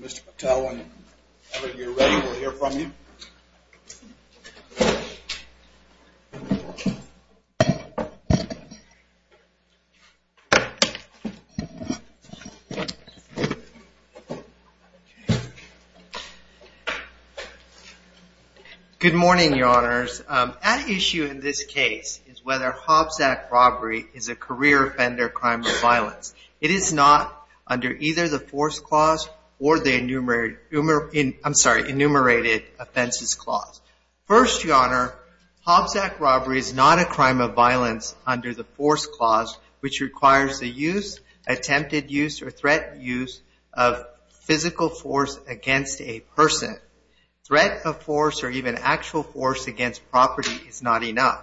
Mr. Patel when you're ready we'll hear from you. Good morning, your honors. At issue in this case is whether Hobbs Act robbery is a career offender crime or violence. It is not under either the Force Clause or the Enumerated Offenses Clause. First, your honor, Hobbs Act robbery is not a crime of violence under the Force Clause which requires the use, attempted use, or threat use of physical force against a person. Threat of force or even actual force against property is not enough.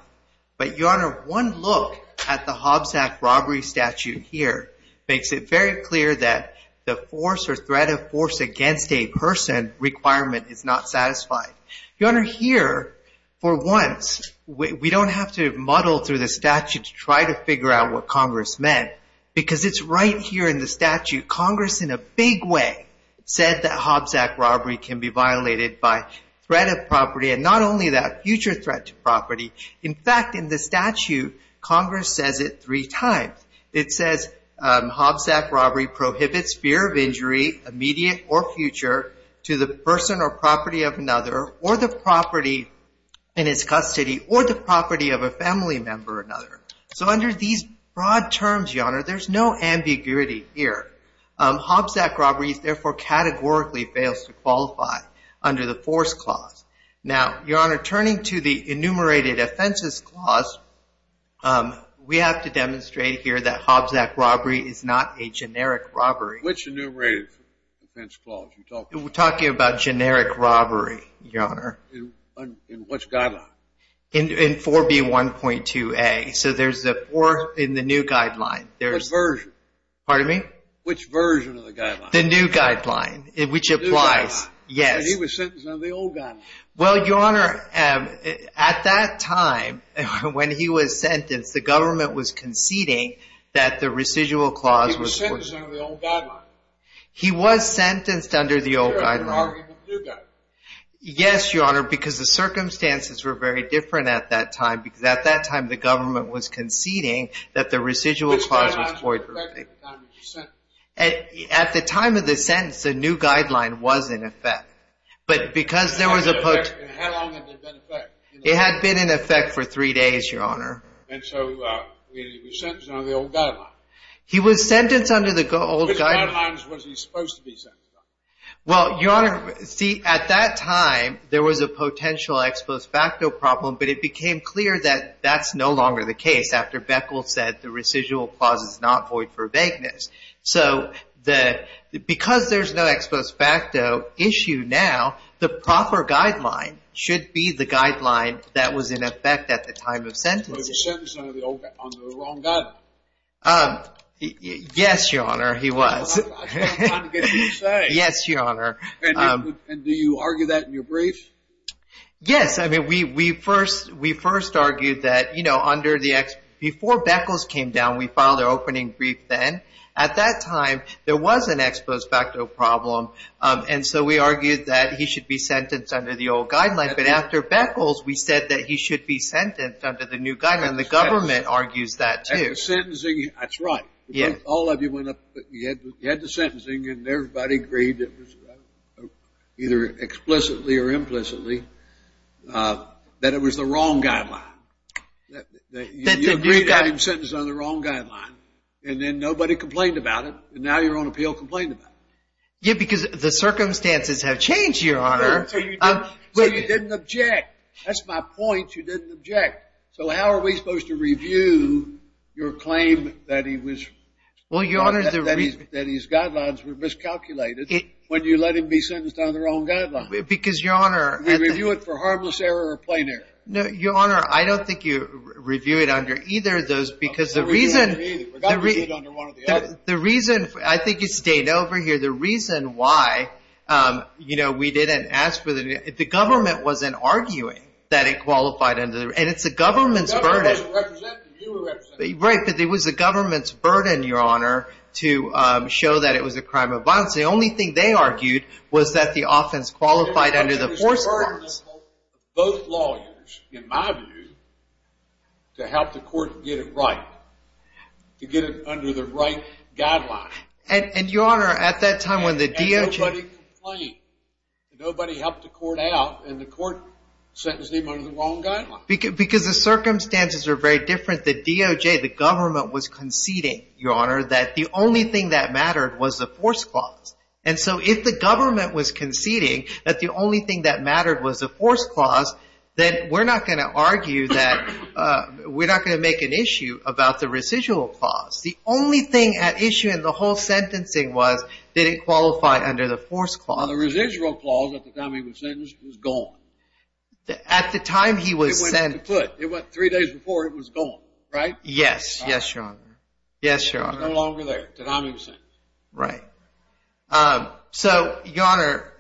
But your honor, one look at the Hobbs Act robbery statute here makes it very clear that the force or threat of force is not a crime of violence under the Force Clause. Threat of force against a person requirement is not satisfied. Your honor, here for once we don't have to muddle through the statute to try to figure out what Congress meant because it's right here in the statute. Congress in a big way said that Hobbs Act robbery can be violated by threat of property and not only that future threat to property. In fact, in the statute, Congress says it three times. It says Hobbs Act robbery prohibits fear of injury, immediate or future, to the person or property of another or the property in his custody or the property of a family member or another. So under these broad terms, your honor, there's no ambiguity here. Hobbs Act robbery therefore categorically fails to qualify under the Force Clause. Now, your honor, turning to the Enumerated Offenses Clause, we have to demonstrate here that Hobbs Act robbery is not a generic robbery. Which Enumerated Offense Clause? We're talking about generic robbery, your honor. In which guideline? In 4B1.2A. So there's the four in the new guideline. Which version? Pardon me? Which version of the guideline? The new guideline, which applies. The new guideline. Yes. Because he was sentenced under the old guideline. Well, your honor, at that time, when he was sentenced, the government was conceding that the residual clause was void. He was sentenced under the old guideline. He was sentenced under the old guideline. Yes, your honor, because the circumstances were very different at that time because at that time, the government was conceding that the residual clause was void. Which guideline is corrected at the time he was sentenced? At the time of the sentence, the new guideline was in effect. How long had it been in effect? It had been in effect for three days, your honor. And so he was sentenced under the old guideline. He was sentenced under the old guideline. Which guidelines was he supposed to be sentenced under? Well, your honor, see, at that time, there was a potential ex post facto problem, but it became clear that that's no longer the case after Beckel said the residual clause is not void for vagueness. So because there's no ex post facto issue now, the proper guideline should be the guideline that was in effect at the time of sentencing. Was he sentenced under the wrong guideline? Yes, your honor, he was. I'm trying to get what you're saying. Yes, your honor. And do you argue that in your brief? Yes. I mean, we first argued that, you know, before Beckles came down, we filed our opening brief then. At that time, there was an ex post facto problem, and so we argued that he should be sentenced under the old guideline. But after Beckles, we said that he should be sentenced under the new guideline, and the government argues that, too. After sentencing, that's right. All of you went up, you had the sentencing, and everybody agreed, either explicitly or implicitly, that it was the wrong guideline. You agreed to have him sentenced under the wrong guideline, and then nobody complained about it, and now you're on appeal complaining about it. Yeah, because the circumstances have changed, your honor. So you didn't object. That's my point. You didn't object. So how are we supposed to review your claim that his guidelines were miscalculated when you let him be sentenced under the wrong guideline? Because, your honor. We review it for harmless error or plain error? No, your honor, I don't think you review it under either of those because the reason— I don't review it under either. We've got to review it under one or the other. The reason—I think you stayed over here. The reason why, you know, we didn't ask for the—the government wasn't arguing that it qualified under—and it's the government's burden. The government doesn't represent it. You represent it. Right, but it was the government's burden, your honor, to show that it was a crime of violence. The only thing they argued was that the offense qualified under the force of force. It was the burden of both lawyers, in my view, to help the court get it right, to get it under the right guideline. And, your honor, at that time when the DOJ— And nobody complained. Nobody helped the court out, and the court sentenced him under the wrong guideline. Because the circumstances are very different. The DOJ, the government, was conceding, your honor, that the only thing that mattered was the force clause. And so if the government was conceding that the only thing that mattered was the force clause, then we're not going to argue that—we're not going to make an issue about the residual clause. The only thing at issue in the whole sentencing was that it qualified under the force clause. The residual clause at the time he was sentenced was gone. At the time he was sentenced— It went to put. It went three days before it was gone, right? Yes, your honor. Yes, your honor. It was no longer there, the time he was sentenced. Right. So, your honor,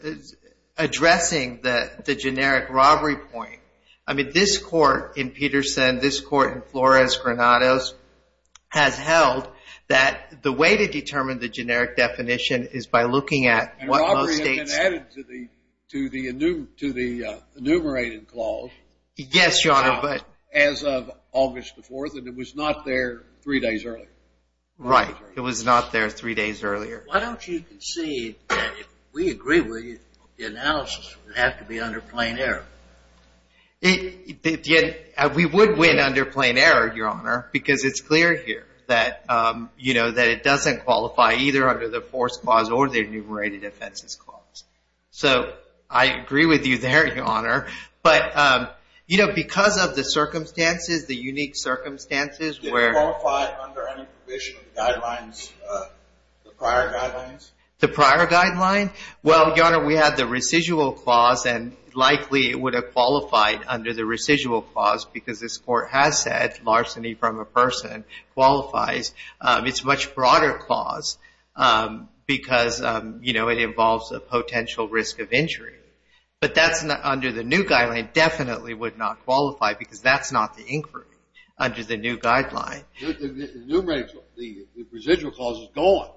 addressing the generic robbery point, I mean, this court in Peterson, this court in Flores, Granados, has held that the way to determine the generic definition is by looking at what most states— And robbery had been added to the enumerated clause— Yes, your honor, but— —as of August the 4th, and it was not there three days earlier. Right. It was not there three days earlier. Why don't you concede that if we agree with you, the analysis would have to be under plain error? We would win under plain error, your honor, because it's clear here that, you know, that it doesn't qualify either under the force clause or the enumerated offenses clause. So, I agree with you there, your honor, but, you know, because of the circumstances, the unique circumstances where— Did it qualify under any provision of the guidelines, the prior guidelines? The prior guidelines? Well, your honor, we have the residual clause, and likely it would have qualified under the residual clause because this court has said larceny from a person qualifies. It's a much broader clause because, you know, it involves a potential risk of injury. But that's not under the new guideline. It definitely would not qualify because that's not the inquiry under the new guideline. The enumerated—the residual clause is gone.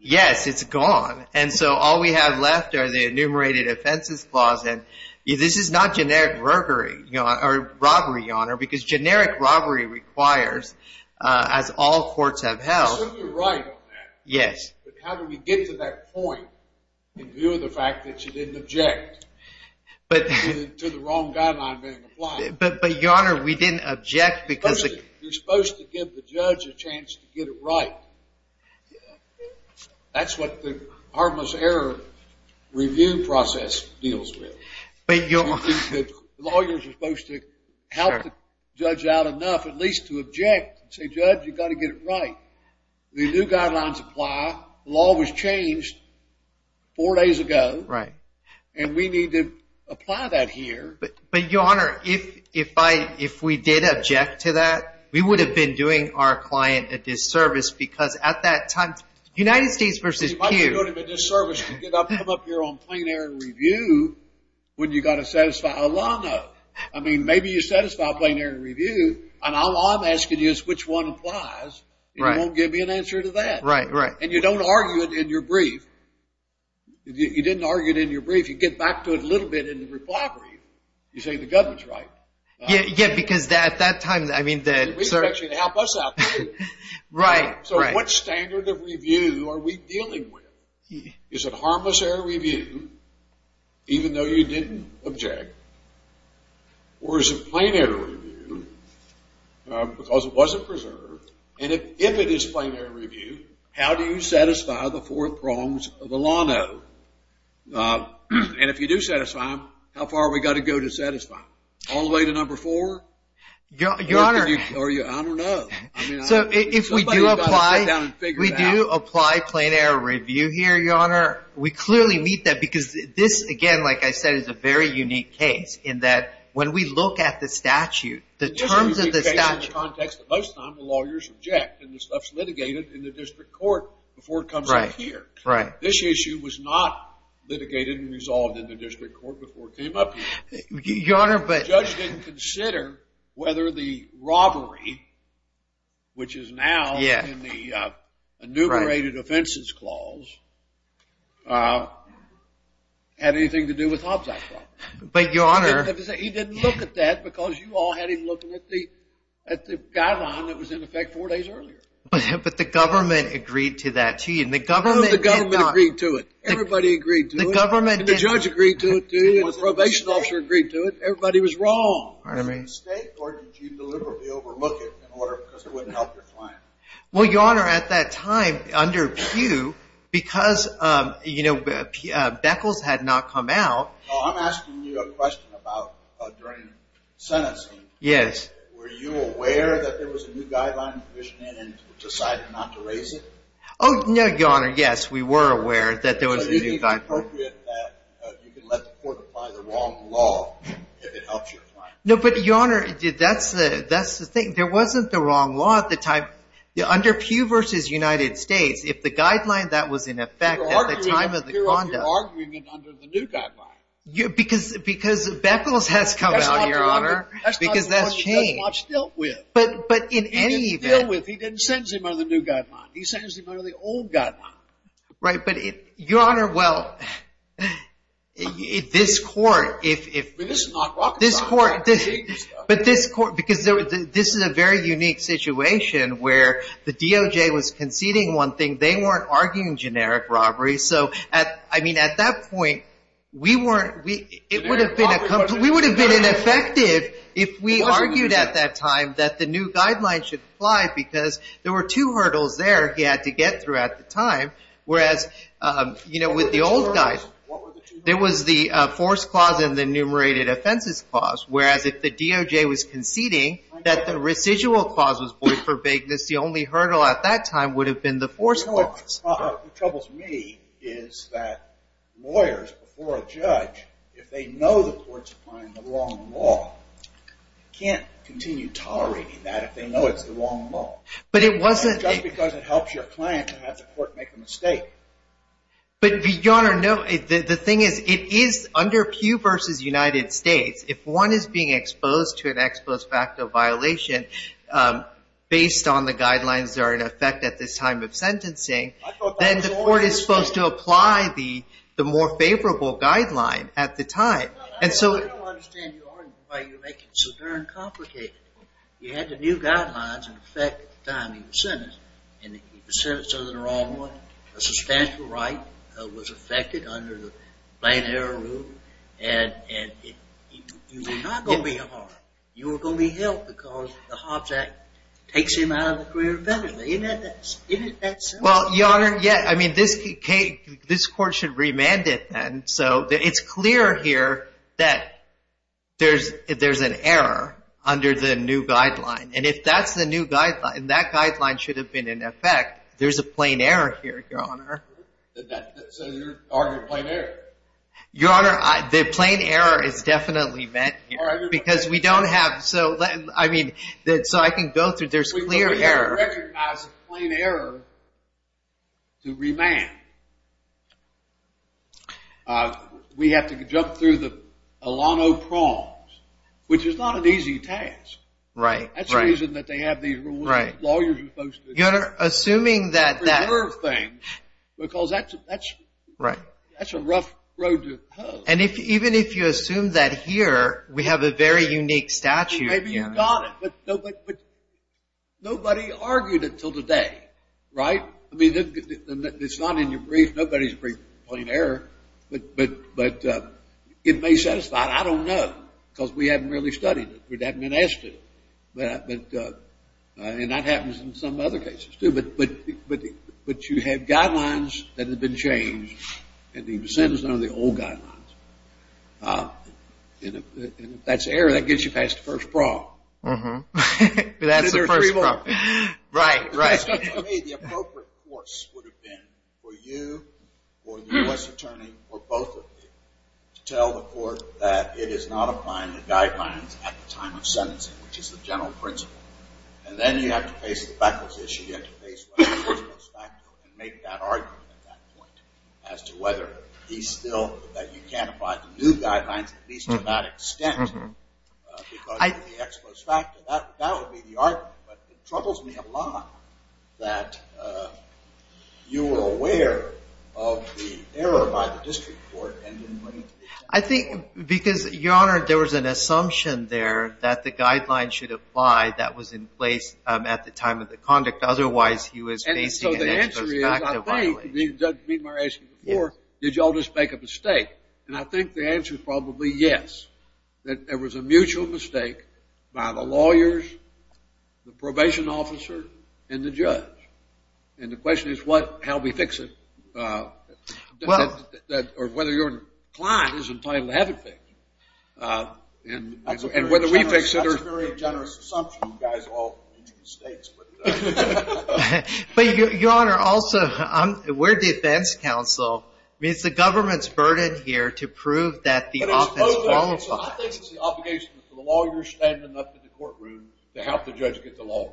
Yes, it's gone. And so all we have left are the enumerated offenses clause. And this is not generic robbery, your honor, because generic robbery requires, as all courts have held— I assume you're right on that. Yes. But how do we get to that point in view of the fact that you didn't object to the wrong guideline being applied? But, your honor, we didn't object because— You're supposed to give the judge a chance to get it right. That's what the harmless error review process deals with. But, your— The lawyers are supposed to help the judge out enough at least to object and say, Judge, you've got to get it right. The new guidelines apply. The law was changed four days ago. Right. And we need to apply that here. But, your honor, if we did object to that, we would have been doing our client a disservice because at that time— United States versus Q. You might have done him a disservice to come up here on plain error review when you've got to satisfy a law note. I mean, maybe you satisfy a plain error review, and all I'm asking you is which one applies. Right. And you won't give me an answer to that. Right, right. And you don't argue it in your brief. You didn't argue it in your brief. You get back to it a little bit in the reply brief. You say the government's right. Yeah, because at that time— We expect you to help us out, too. Right, right. So what standard of review are we dealing with? Is it harmless error review even though you didn't object? Or is it plain error review because it wasn't preserved? And if it is plain error review, how do you satisfy the four prongs of the law note? And if you do satisfy them, how far have we got to go to satisfy them? All the way to number four? Your Honor— Or are you—I don't know. Somebody's got to sit down and figure it out. We do apply plain error review here, Your Honor. We clearly meet that because this, again, like I said, is a very unique case in that when we look at the statute, the terms of the statute— In the context of most times, the lawyers object, and the stuff's litigated in the district court before it comes up here. Right, right. This issue was not litigated and resolved in the district court before it came up here. Your Honor, but— The judge didn't consider whether the robbery, which is now in the enumerated offenses clause, had anything to do with Hobbs Act law. But, Your Honor— He didn't look at that because you all had him looking at the guideline that was in effect four days earlier. But the government agreed to that, too. And the government did not— No, the government agreed to it. Everybody agreed to it. The government— And the judge agreed to it, too. And the probation officer agreed to it. Everybody was wrong. Pardon me. Was it a mistake, or did you deliberately overlook it in order—because it wouldn't help your plan? Well, Your Honor, at that time, under Pew, because, you know, Beckles had not come out— No, I'm asking you a question about during sentencing. Yes. Were you aware that there was a new guideline in provision and decided not to raise it? Oh, no, Your Honor, yes, we were aware that there was a new guideline. It's appropriate that you can let the court apply the wrong law if it helps your plan. No, but, Your Honor, that's the thing. There wasn't the wrong law at the time. Under Pew v. United States, if the guideline that was in effect at the time of the conduct— You're arguing it under the new guideline. Because Beckles has come out, Your Honor, because that's changed. That's not the one he has not dealt with. But in any event— He didn't deal with—he didn't sentence him under the new guideline. He sentenced him under the old guideline. Right. But, Your Honor, well, this court, if— But this is not Rockefeller. But this court—because this is a very unique situation where the DOJ was conceding one thing. They weren't arguing generic robbery. So, I mean, at that point, we weren't—it would have been a—we would have been ineffective if we argued at that time that the new guideline should apply because there were two hurdles there he had to get through at the time. Whereas, you know, with the old guide— What were the two hurdles? There was the force clause and the enumerated offenses clause. Whereas if the DOJ was conceding that the residual clause was void for vagueness, the only hurdle at that time would have been the force clause. What troubles me is that lawyers before a judge, if they know the court's applying the wrong law, can't continue tolerating that if they know it's the wrong law. But it wasn't— Just because it helps your client to have the court make a mistake. But, Your Honor, no. The thing is, it is under Pew v. United States. If one is being exposed to an ex post facto violation based on the guidelines that are in effect at this time of sentencing, then the court is supposed to apply the more favorable guideline at the time. Well, I don't understand, Your Honor, why you make it so darn complicated. You had the new guidelines in effect at the time he was sentenced. And he was sentenced to the wrong one. A substantial right was affected under the Planned Error Rule. And you were not going to be harmed. You were going to be helped because the Hobbs Act takes him out of the career of penalty. Isn't that simple? Well, Your Honor, yeah. I mean, this court should remand it then. So it's clear here that there's an error under the new guideline. And if that's the new guideline, that guideline should have been in effect. There's a plain error here, Your Honor. So you're arguing plain error? Your Honor, the plain error is definitely met here. Because we don't have—so I can go through. There's clear error. We don't recognize a plain error to remand. We have to jump through the Alano proms, which is not an easy task. Right, right. That's the reason that they have these lawyers who are supposed to— Your Honor, assuming that that— —preverb things, because that's a rough road to go. And even if you assume that here, we have a very unique statute, Your Honor. But nobody argued it until today. Right? I mean, it's not in your brief. Nobody's briefed plain error. But it may satisfy. I don't know, because we haven't really studied it. We haven't been asked to. And that happens in some other cases, too. But you have guidelines that have been changed. And he was sentenced under the old guidelines. And if that's error, that gets you past the first brawl. That's the first brawl. Right, right. To me, the appropriate course would have been for you or the U.S. attorney or both of you to tell the court that it is not applying the guidelines at the time of sentencing, which is the general principle. And then you have to face the backwards issue. You have to face what the court goes back to and make that argument at that point as to whether he's still that you can't apply the new guidelines, at least to that extent, because of the ex post facto. That would be the argument. But it troubles me a lot that you were aware of the error by the district court and didn't bring it to the attorney. I think because, Your Honor, there was an assumption there that the guidelines should apply. That was in place at the time of the conduct. Otherwise, he was facing an ex post facto violation. The answer is, I think, did you all just make a mistake? And I think the answer is probably yes, that there was a mutual mistake by the lawyers, the probation officer, and the judge. And the question is how we fix it or whether your client is entitled to have it fixed. And whether we fix it or not. That's a very generous assumption. You guys are all from the United States. But, Your Honor, also, we're defense counsel. I mean, it's the government's burden here to prove that the offense qualifies. I think it's the obligation to the lawyers standing up in the courtroom to help the judge get the law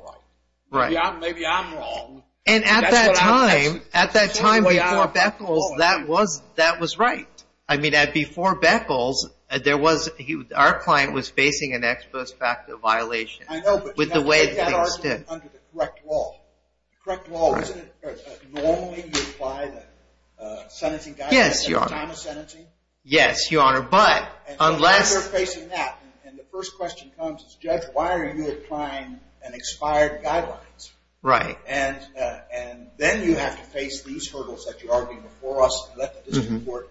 right. Maybe I'm wrong. And at that time, at that time before Beckles, that was right. I mean, before Beckles, our client was facing an ex post facto violation with the way things stood. I know, but you have to take that argument under the correct law. The correct law, isn't it normally you apply the sentencing guidelines at the time of sentencing? Yes, Your Honor. Yes, Your Honor, but unless And so now they're facing that. And the first question comes is, Judge, why are you applying an expired guidelines? Right. And then you have to face these hurdles that you argued before us and let the district court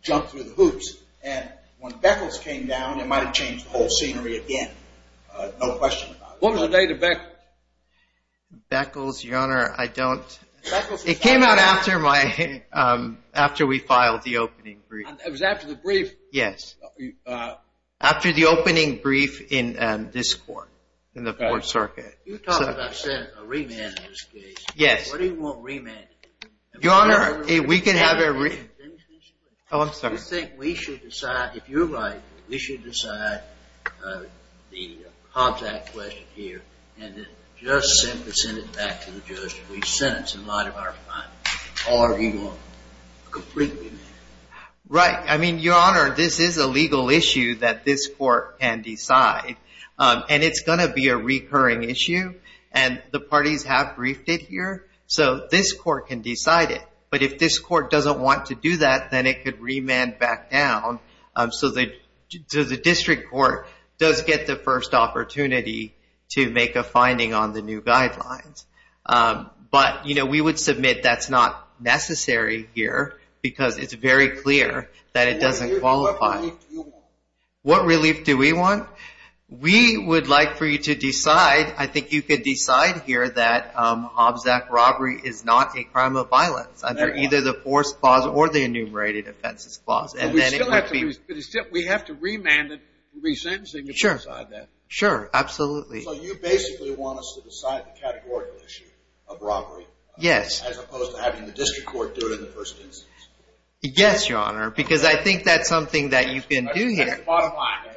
jump through the hoops. And when Beckles came down, it might have changed the whole scenery again. No question about it. What was the date of Beckles? Beckles, Your Honor, I don't. It came out after we filed the opening brief. It was after the brief. Yes. After the opening brief in this court, in the fourth circuit. You talked about a remand in this case. Yes. What do you want remanded? Your Honor, we can have a remand. Oh, I'm sorry. Do you think we should decide, if you like, we should decide the contact question here and just simply send it back to the judge if we sentence in light of our findings? Or are we going to completely remand it? Right. I mean, Your Honor, this is a legal issue that this court can decide. And it's going to be a recurring issue. And the parties have briefed it here, so this court can decide it. But if this court doesn't want to do that, then it could remand back down so the district court does get the first opportunity to make a finding on the new guidelines. But, you know, we would submit that's not necessary here because it's very clear that it doesn't qualify. What relief do you want? What relief do we want? We would like for you to decide, I think you could decide here, that Hobbs-Zack robbery is not a crime of violence under either the forced clause or the enumerated offenses clause. But we have to remand it and re-sentencing to decide that. Sure. Sure, absolutely. So you basically want us to decide the categorical issue of robbery? Yes. As opposed to having the district court do it in the first instance? Yes, Your Honor, because I think that's something that you can do here. Bottom line.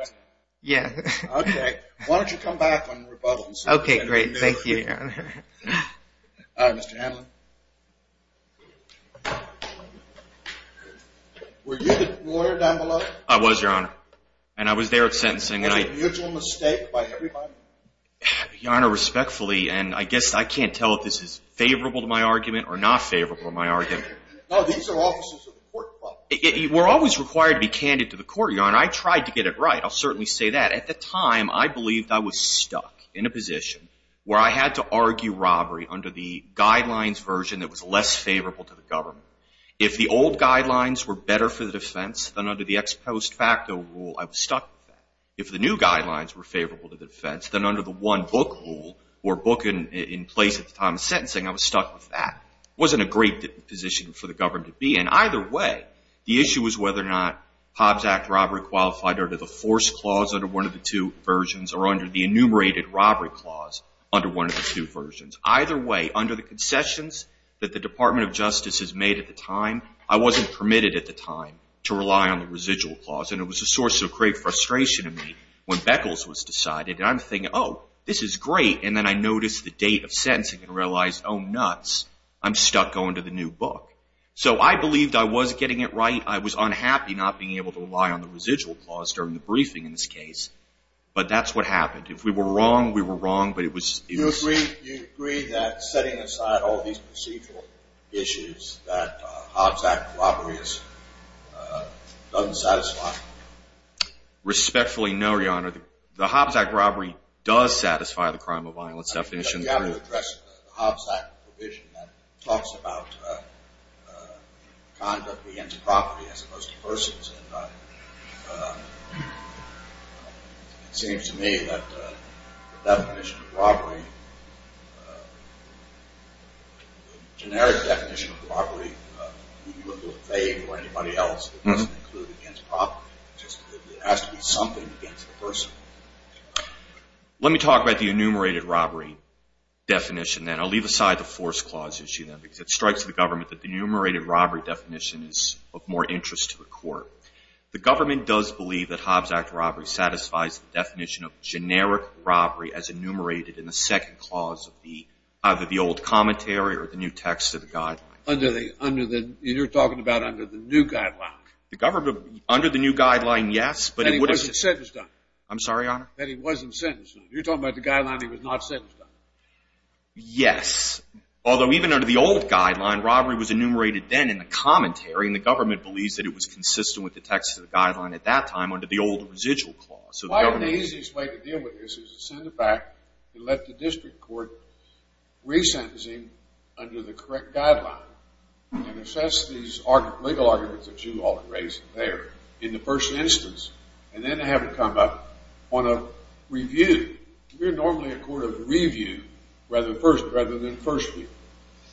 Yeah. Okay. Why don't you come back when the rebuttal is submitted? Okay, great. Thank you, Your Honor. All right, Mr. Hanlon. Were you the lawyer down below? I was, Your Honor, and I was there at sentencing. Was it a mutual mistake by everybody? Your Honor, respectfully, and I guess I can't tell if this is favorable to my argument or not favorable to my argument. No, these are offices of the court. We're always required to be candid to the court, Your Honor. I tried to get it right. I'll certainly say that. At the time, I believed I was stuck in a position where I had to argue robbery under the guidelines version that was less favorable to the government. If the old guidelines were better for the defense, then under the ex post facto rule, I was stuck with that. If the new guidelines were favorable to the defense, then under the one book rule or book in place at the time of sentencing, I was stuck with that. It wasn't a great position for the government to be in. Either way, the issue was whether or not Hobbs Act robbery qualified under the force clause under one of the two versions or under the enumerated robbery clause under one of the two versions. Either way, under the concessions that the Department of Justice has made at the time, I wasn't permitted at the time to rely on the residual clause, and it was a source of great frustration to me when Beckles was decided. I'm thinking, oh, this is great, and then I noticed the date of sentencing and realized, oh, nuts, I'm stuck going to the new book. So I believed I was getting it right. I was unhappy not being able to rely on the residual clause during the briefing in this case, but that's what happened. If we were wrong, we were wrong, but it was... You agree that setting aside all these procedural issues that Hobbs Act robbery doesn't satisfy? Respectfully, no, Your Honor. The Hobbs Act robbery does satisfy the crime of violence definition. I think you've got to address the Hobbs Act provision that talks about conduct against property as opposed to persons, and it seems to me that the definition of robbery, the generic definition of robbery, when you look to a fag or anybody else, it doesn't include against property. It has to be something against the person. Let me talk about the enumerated robbery definition, then. I'll leave aside the force clause issue, then, because it strikes the government that the enumerated robbery definition is of more interest to the court. The government does believe that Hobbs Act robbery satisfies the definition of generic robbery as enumerated in the second clause of either the old commentary or the new text of the Guideline. You're talking about under the new Guideline. Under the new Guideline, yes. That it wasn't sentence-done. I'm sorry, Your Honor? That it wasn't sentence-done. You're talking about the Guideline that it was not sentence-done. Yes, although even under the old Guideline, robbery was enumerated then in the commentary, and the government believes that it was consistent with the text of the Guideline at that time under the old residual clause. Why the easiest way to deal with this is to send it back and let the district court re-sentencing under the correct Guideline and assess these legal arguments that you all have raised there. In the first instance. And then have it come up on a review. We're normally a court of review rather than first review.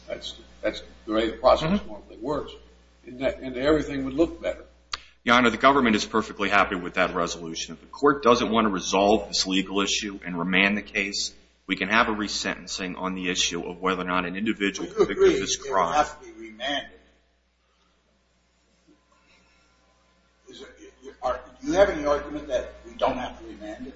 That's the way the process normally works. And everything would look better. Your Honor, the government is perfectly happy with that resolution. If the court doesn't want to resolve this legal issue and remand the case, we can have a re-sentencing on the issue of whether or not an individual committed this crime. We don't have to be remanded. Do you have any argument that we don't have to be remanded?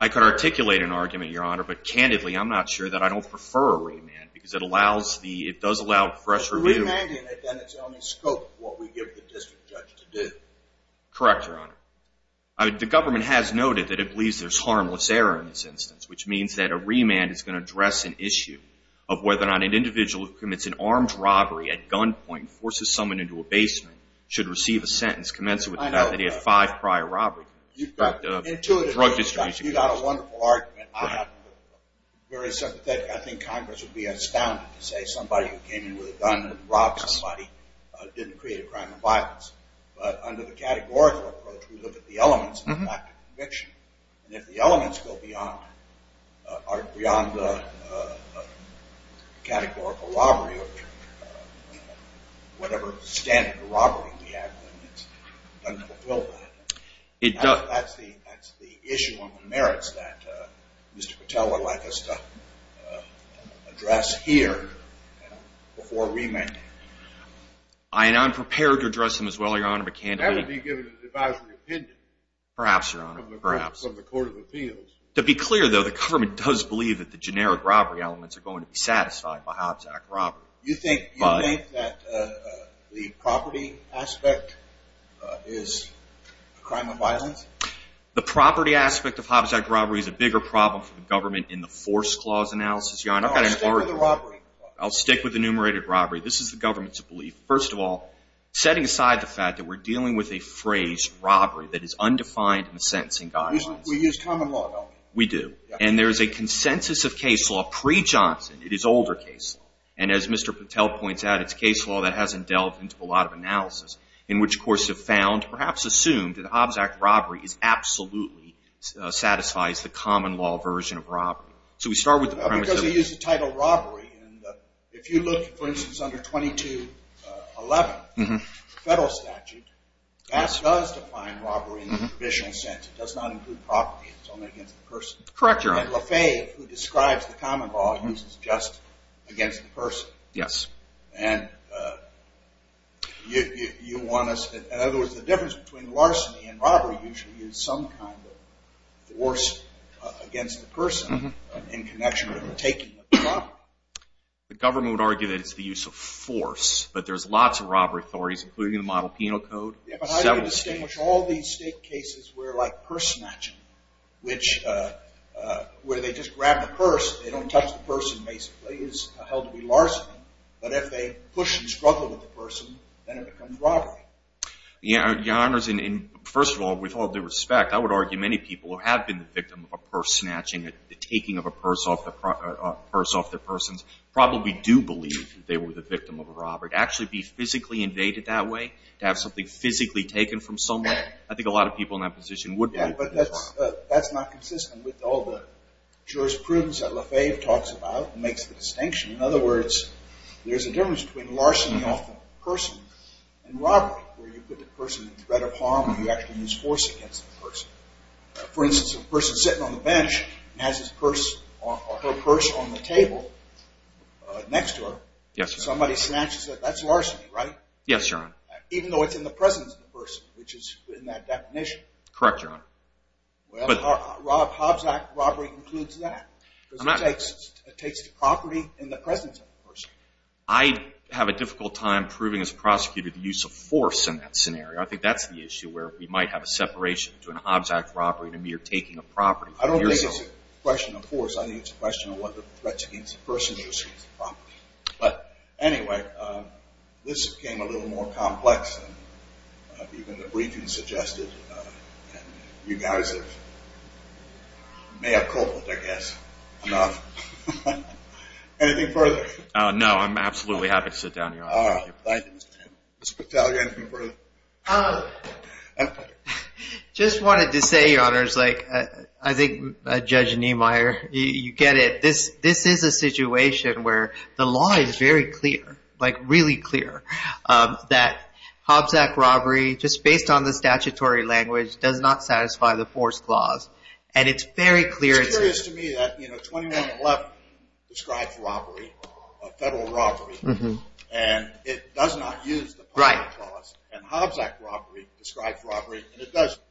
I could articulate an argument, Your Honor, but candidly I'm not sure that I don't prefer a remand because it does allow fresh review. If we're remanding it, then it's the only scope of what we give the district judge to do. Correct, Your Honor. The government has noted that it believes there's harmless error in this instance, which means that a remand is going to address an issue of whether or not an individual who commits an armed robbery at gunpoint, forces someone into a basement, should receive a sentence commencing with the fact that he had five prior robberies. You've got a wonderful argument. I think Congress would be astounded to say somebody who came in with a gun and robbed somebody didn't create a crime of violence. But under the categorical approach, we look at the elements and the fact of conviction. And if the elements go beyond the categorical robbery or whatever standard of robbery we have, then it doesn't fulfill that. That's the issue on the merits that Mr. Patel would like us to address here before remanding. I'm prepared to address them as well, Your Honor, but can't be given an advisory opinion. Perhaps, Your Honor, perhaps. From the Court of Appeals. To be clear, though, the government does believe that the generic robbery elements are going to be satisfied by Hobbs Act robbery. You think that the property aspect is a crime of violence? The property aspect of Hobbs Act robbery is a bigger problem for the government in the force clause analysis, Your Honor. I'll stick with the robbery clause. I'll stick with enumerated robbery. This is the government's belief. First of all, setting aside the fact that we're dealing with a phrase, robbery, that is undefined in the sentencing guidelines. We use common law, don't we? We do. And there is a consensus of case law pre-Johnson. It is older case law. And as Mr. Patel points out, it's case law that hasn't delved into a lot of analysis, in which courts have found, perhaps assumed, that Hobbs Act robbery absolutely satisfies the common law version of robbery. So we start with the premise of it. And if you look, for instance, under 2211 federal statute, that does define robbery in the provisional sense. It does not include property. It's only against the person. Correct, Your Honor. And Lafaye, who describes the common law, uses just against the person. Yes. And you want us to – in other words, the difference between larceny and robbery usually is some kind of force against the person in connection with the taking of the property. The government would argue that it's the use of force. But there's lots of robbery authorities, including the Model Penal Code. But how do you distinguish all these state cases where, like purse snatching, where they just grab the purse, they don't touch the person, basically, is held to be larceny. But if they push and struggle with the person, then it becomes robbery. Your Honors, first of all, with all due respect, I would argue many people who have been the victim of a purse snatching, the taking of a purse off their persons, probably do believe that they were the victim of a robbery. To actually be physically invaded that way, to have something physically taken from somewhere, I think a lot of people in that position would be. Yes, but that's not consistent with all the jurisprudence that Lafaye talks about and makes the distinction. In other words, there's a difference between larceny off the person and robbery, where you put the person in threat of harm and you actually use force against the person. For instance, if a person is sitting on the bench and has her purse on the table next to her, somebody snatches it, that's larceny, right? Yes, Your Honor. Even though it's in the presence of the person, which is in that definition. Correct, Your Honor. Well, Hobbs Act robbery includes that. It takes the property in the presence of the person. I have a difficult time proving as a prosecutor the use of force in that scenario. I think that's the issue where we might have a separation to an Hobbs Act robbery and a mere taking of property. I don't think it's a question of force. I think it's a question of what the threat is against the person versus the property. But anyway, this became a little more complex than even the briefing suggested. You guys may have cobbled, I guess, enough. No, I'm absolutely happy to sit down, Your Honor. Mr. Battaglia, anything further? Just wanted to say, Your Honor, I think Judge Niemeyer, you get it. This is a situation where the law is very clear, like really clear, that Hobbs Act robbery, just based on the statutory language, does not satisfy the force clause. And it's very clear. It's curious to me that 2111 describes robbery, a federal robbery, and it does not use the property clause. And Hobbs Act robbery describes robbery, and it does use the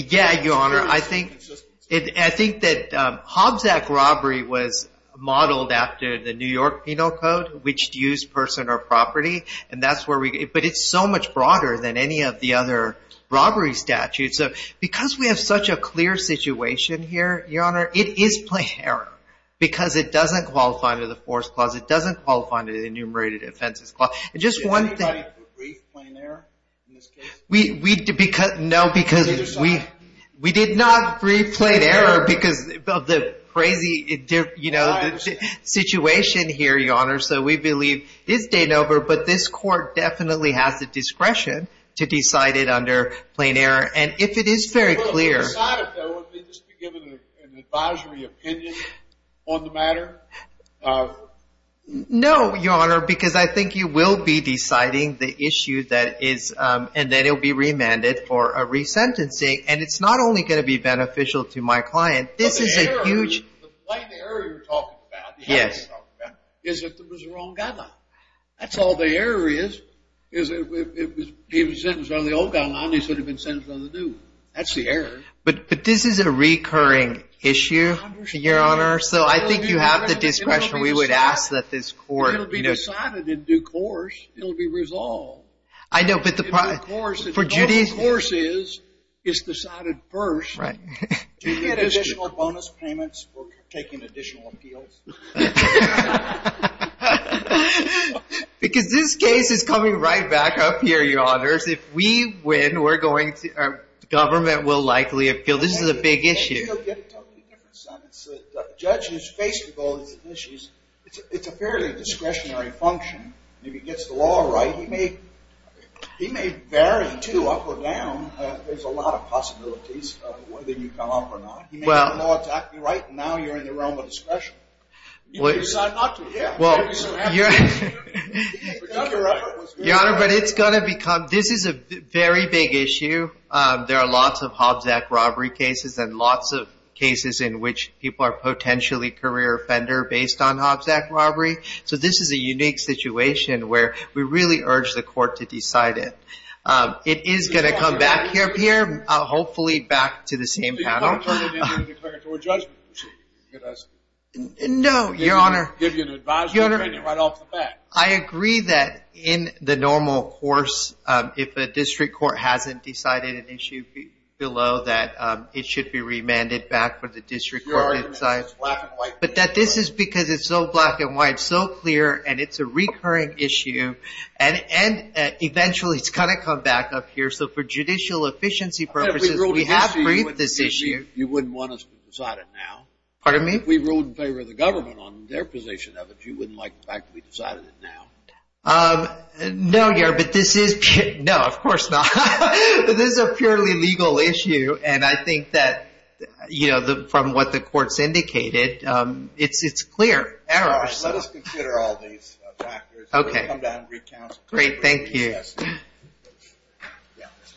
property clause. Yeah, Your Honor. I think that Hobbs Act robbery was modeled after the New York Penal Code, which used person or property. But it's so much broader than any of the other robbery statutes. So because we have such a clear situation here, Your Honor, it is plain error because it doesn't qualify under the force clause. It doesn't qualify under the enumerated offenses clause. And just one thing. Did anybody brief plain error in this case? No, because we did not brief plain error because of the crazy situation here, Your Honor. So we believe it's de novo, but this court definitely has the discretion to decide it under plain error. And if it is very clear. Would we just be given an advisory opinion on the matter? No, Your Honor, because I think you will be deciding the issue that is and then it will be remanded for a resentencing. And it's not only going to be beneficial to my client. This is a huge. The way the error you're talking about, the error you're talking about, is that there was a wrong guideline. That's all the error is. If he was sentenced under the old guideline, he should have been sentenced under the new. That's the error. But this is a recurring issue, Your Honor. So I think you have the discretion. We would ask that this court. It will be decided in due course. It will be resolved. I know, but the. In due course. For Judy. In due course is, it's decided first. Right. Do you get additional bonus payments for taking additional appeals? Because this case is coming right back up here, Your Honors. If we win, we're going to. Government will likely appeal. This is a big issue. Judge has faced with all these issues. It's a fairly discretionary function. If he gets the law right, he may. He may vary, too, up or down. There's a lot of possibilities of whether you come up or not. Well. Now you're in the realm of discretion. You decide not to. Yeah. Well. Your Honor, but it's going to become. This is a very big issue. There are lots of Hobbs Act robbery cases. And lots of cases in which people are potentially career offender based on Hobbs Act robbery. So this is a unique situation where we really urge the court to decide it. It is going to come back up here. Hopefully back to the same panel. No. Your Honor. Your Honor. I agree that in the normal course, if a district court hasn't decided an issue below, that it should be remanded back for the district court to decide. But that this is because it's so black and white, so clear. And it's a recurring issue. And eventually it's going to come back up here. So for judicial efficiency purposes, we have briefed this issue. You wouldn't want us to decide it now. Pardon me? If we ruled in favor of the government on their position of it, you wouldn't like the fact that we decided it now. No, Your Honor. But this is pure. No, of course not. But this is a purely legal issue. And I think that, you know, from what the courts indicated, it's clear. All right. Let us consider all these factors. Okay. We'll come back and recount. Great. Thank you. Yes.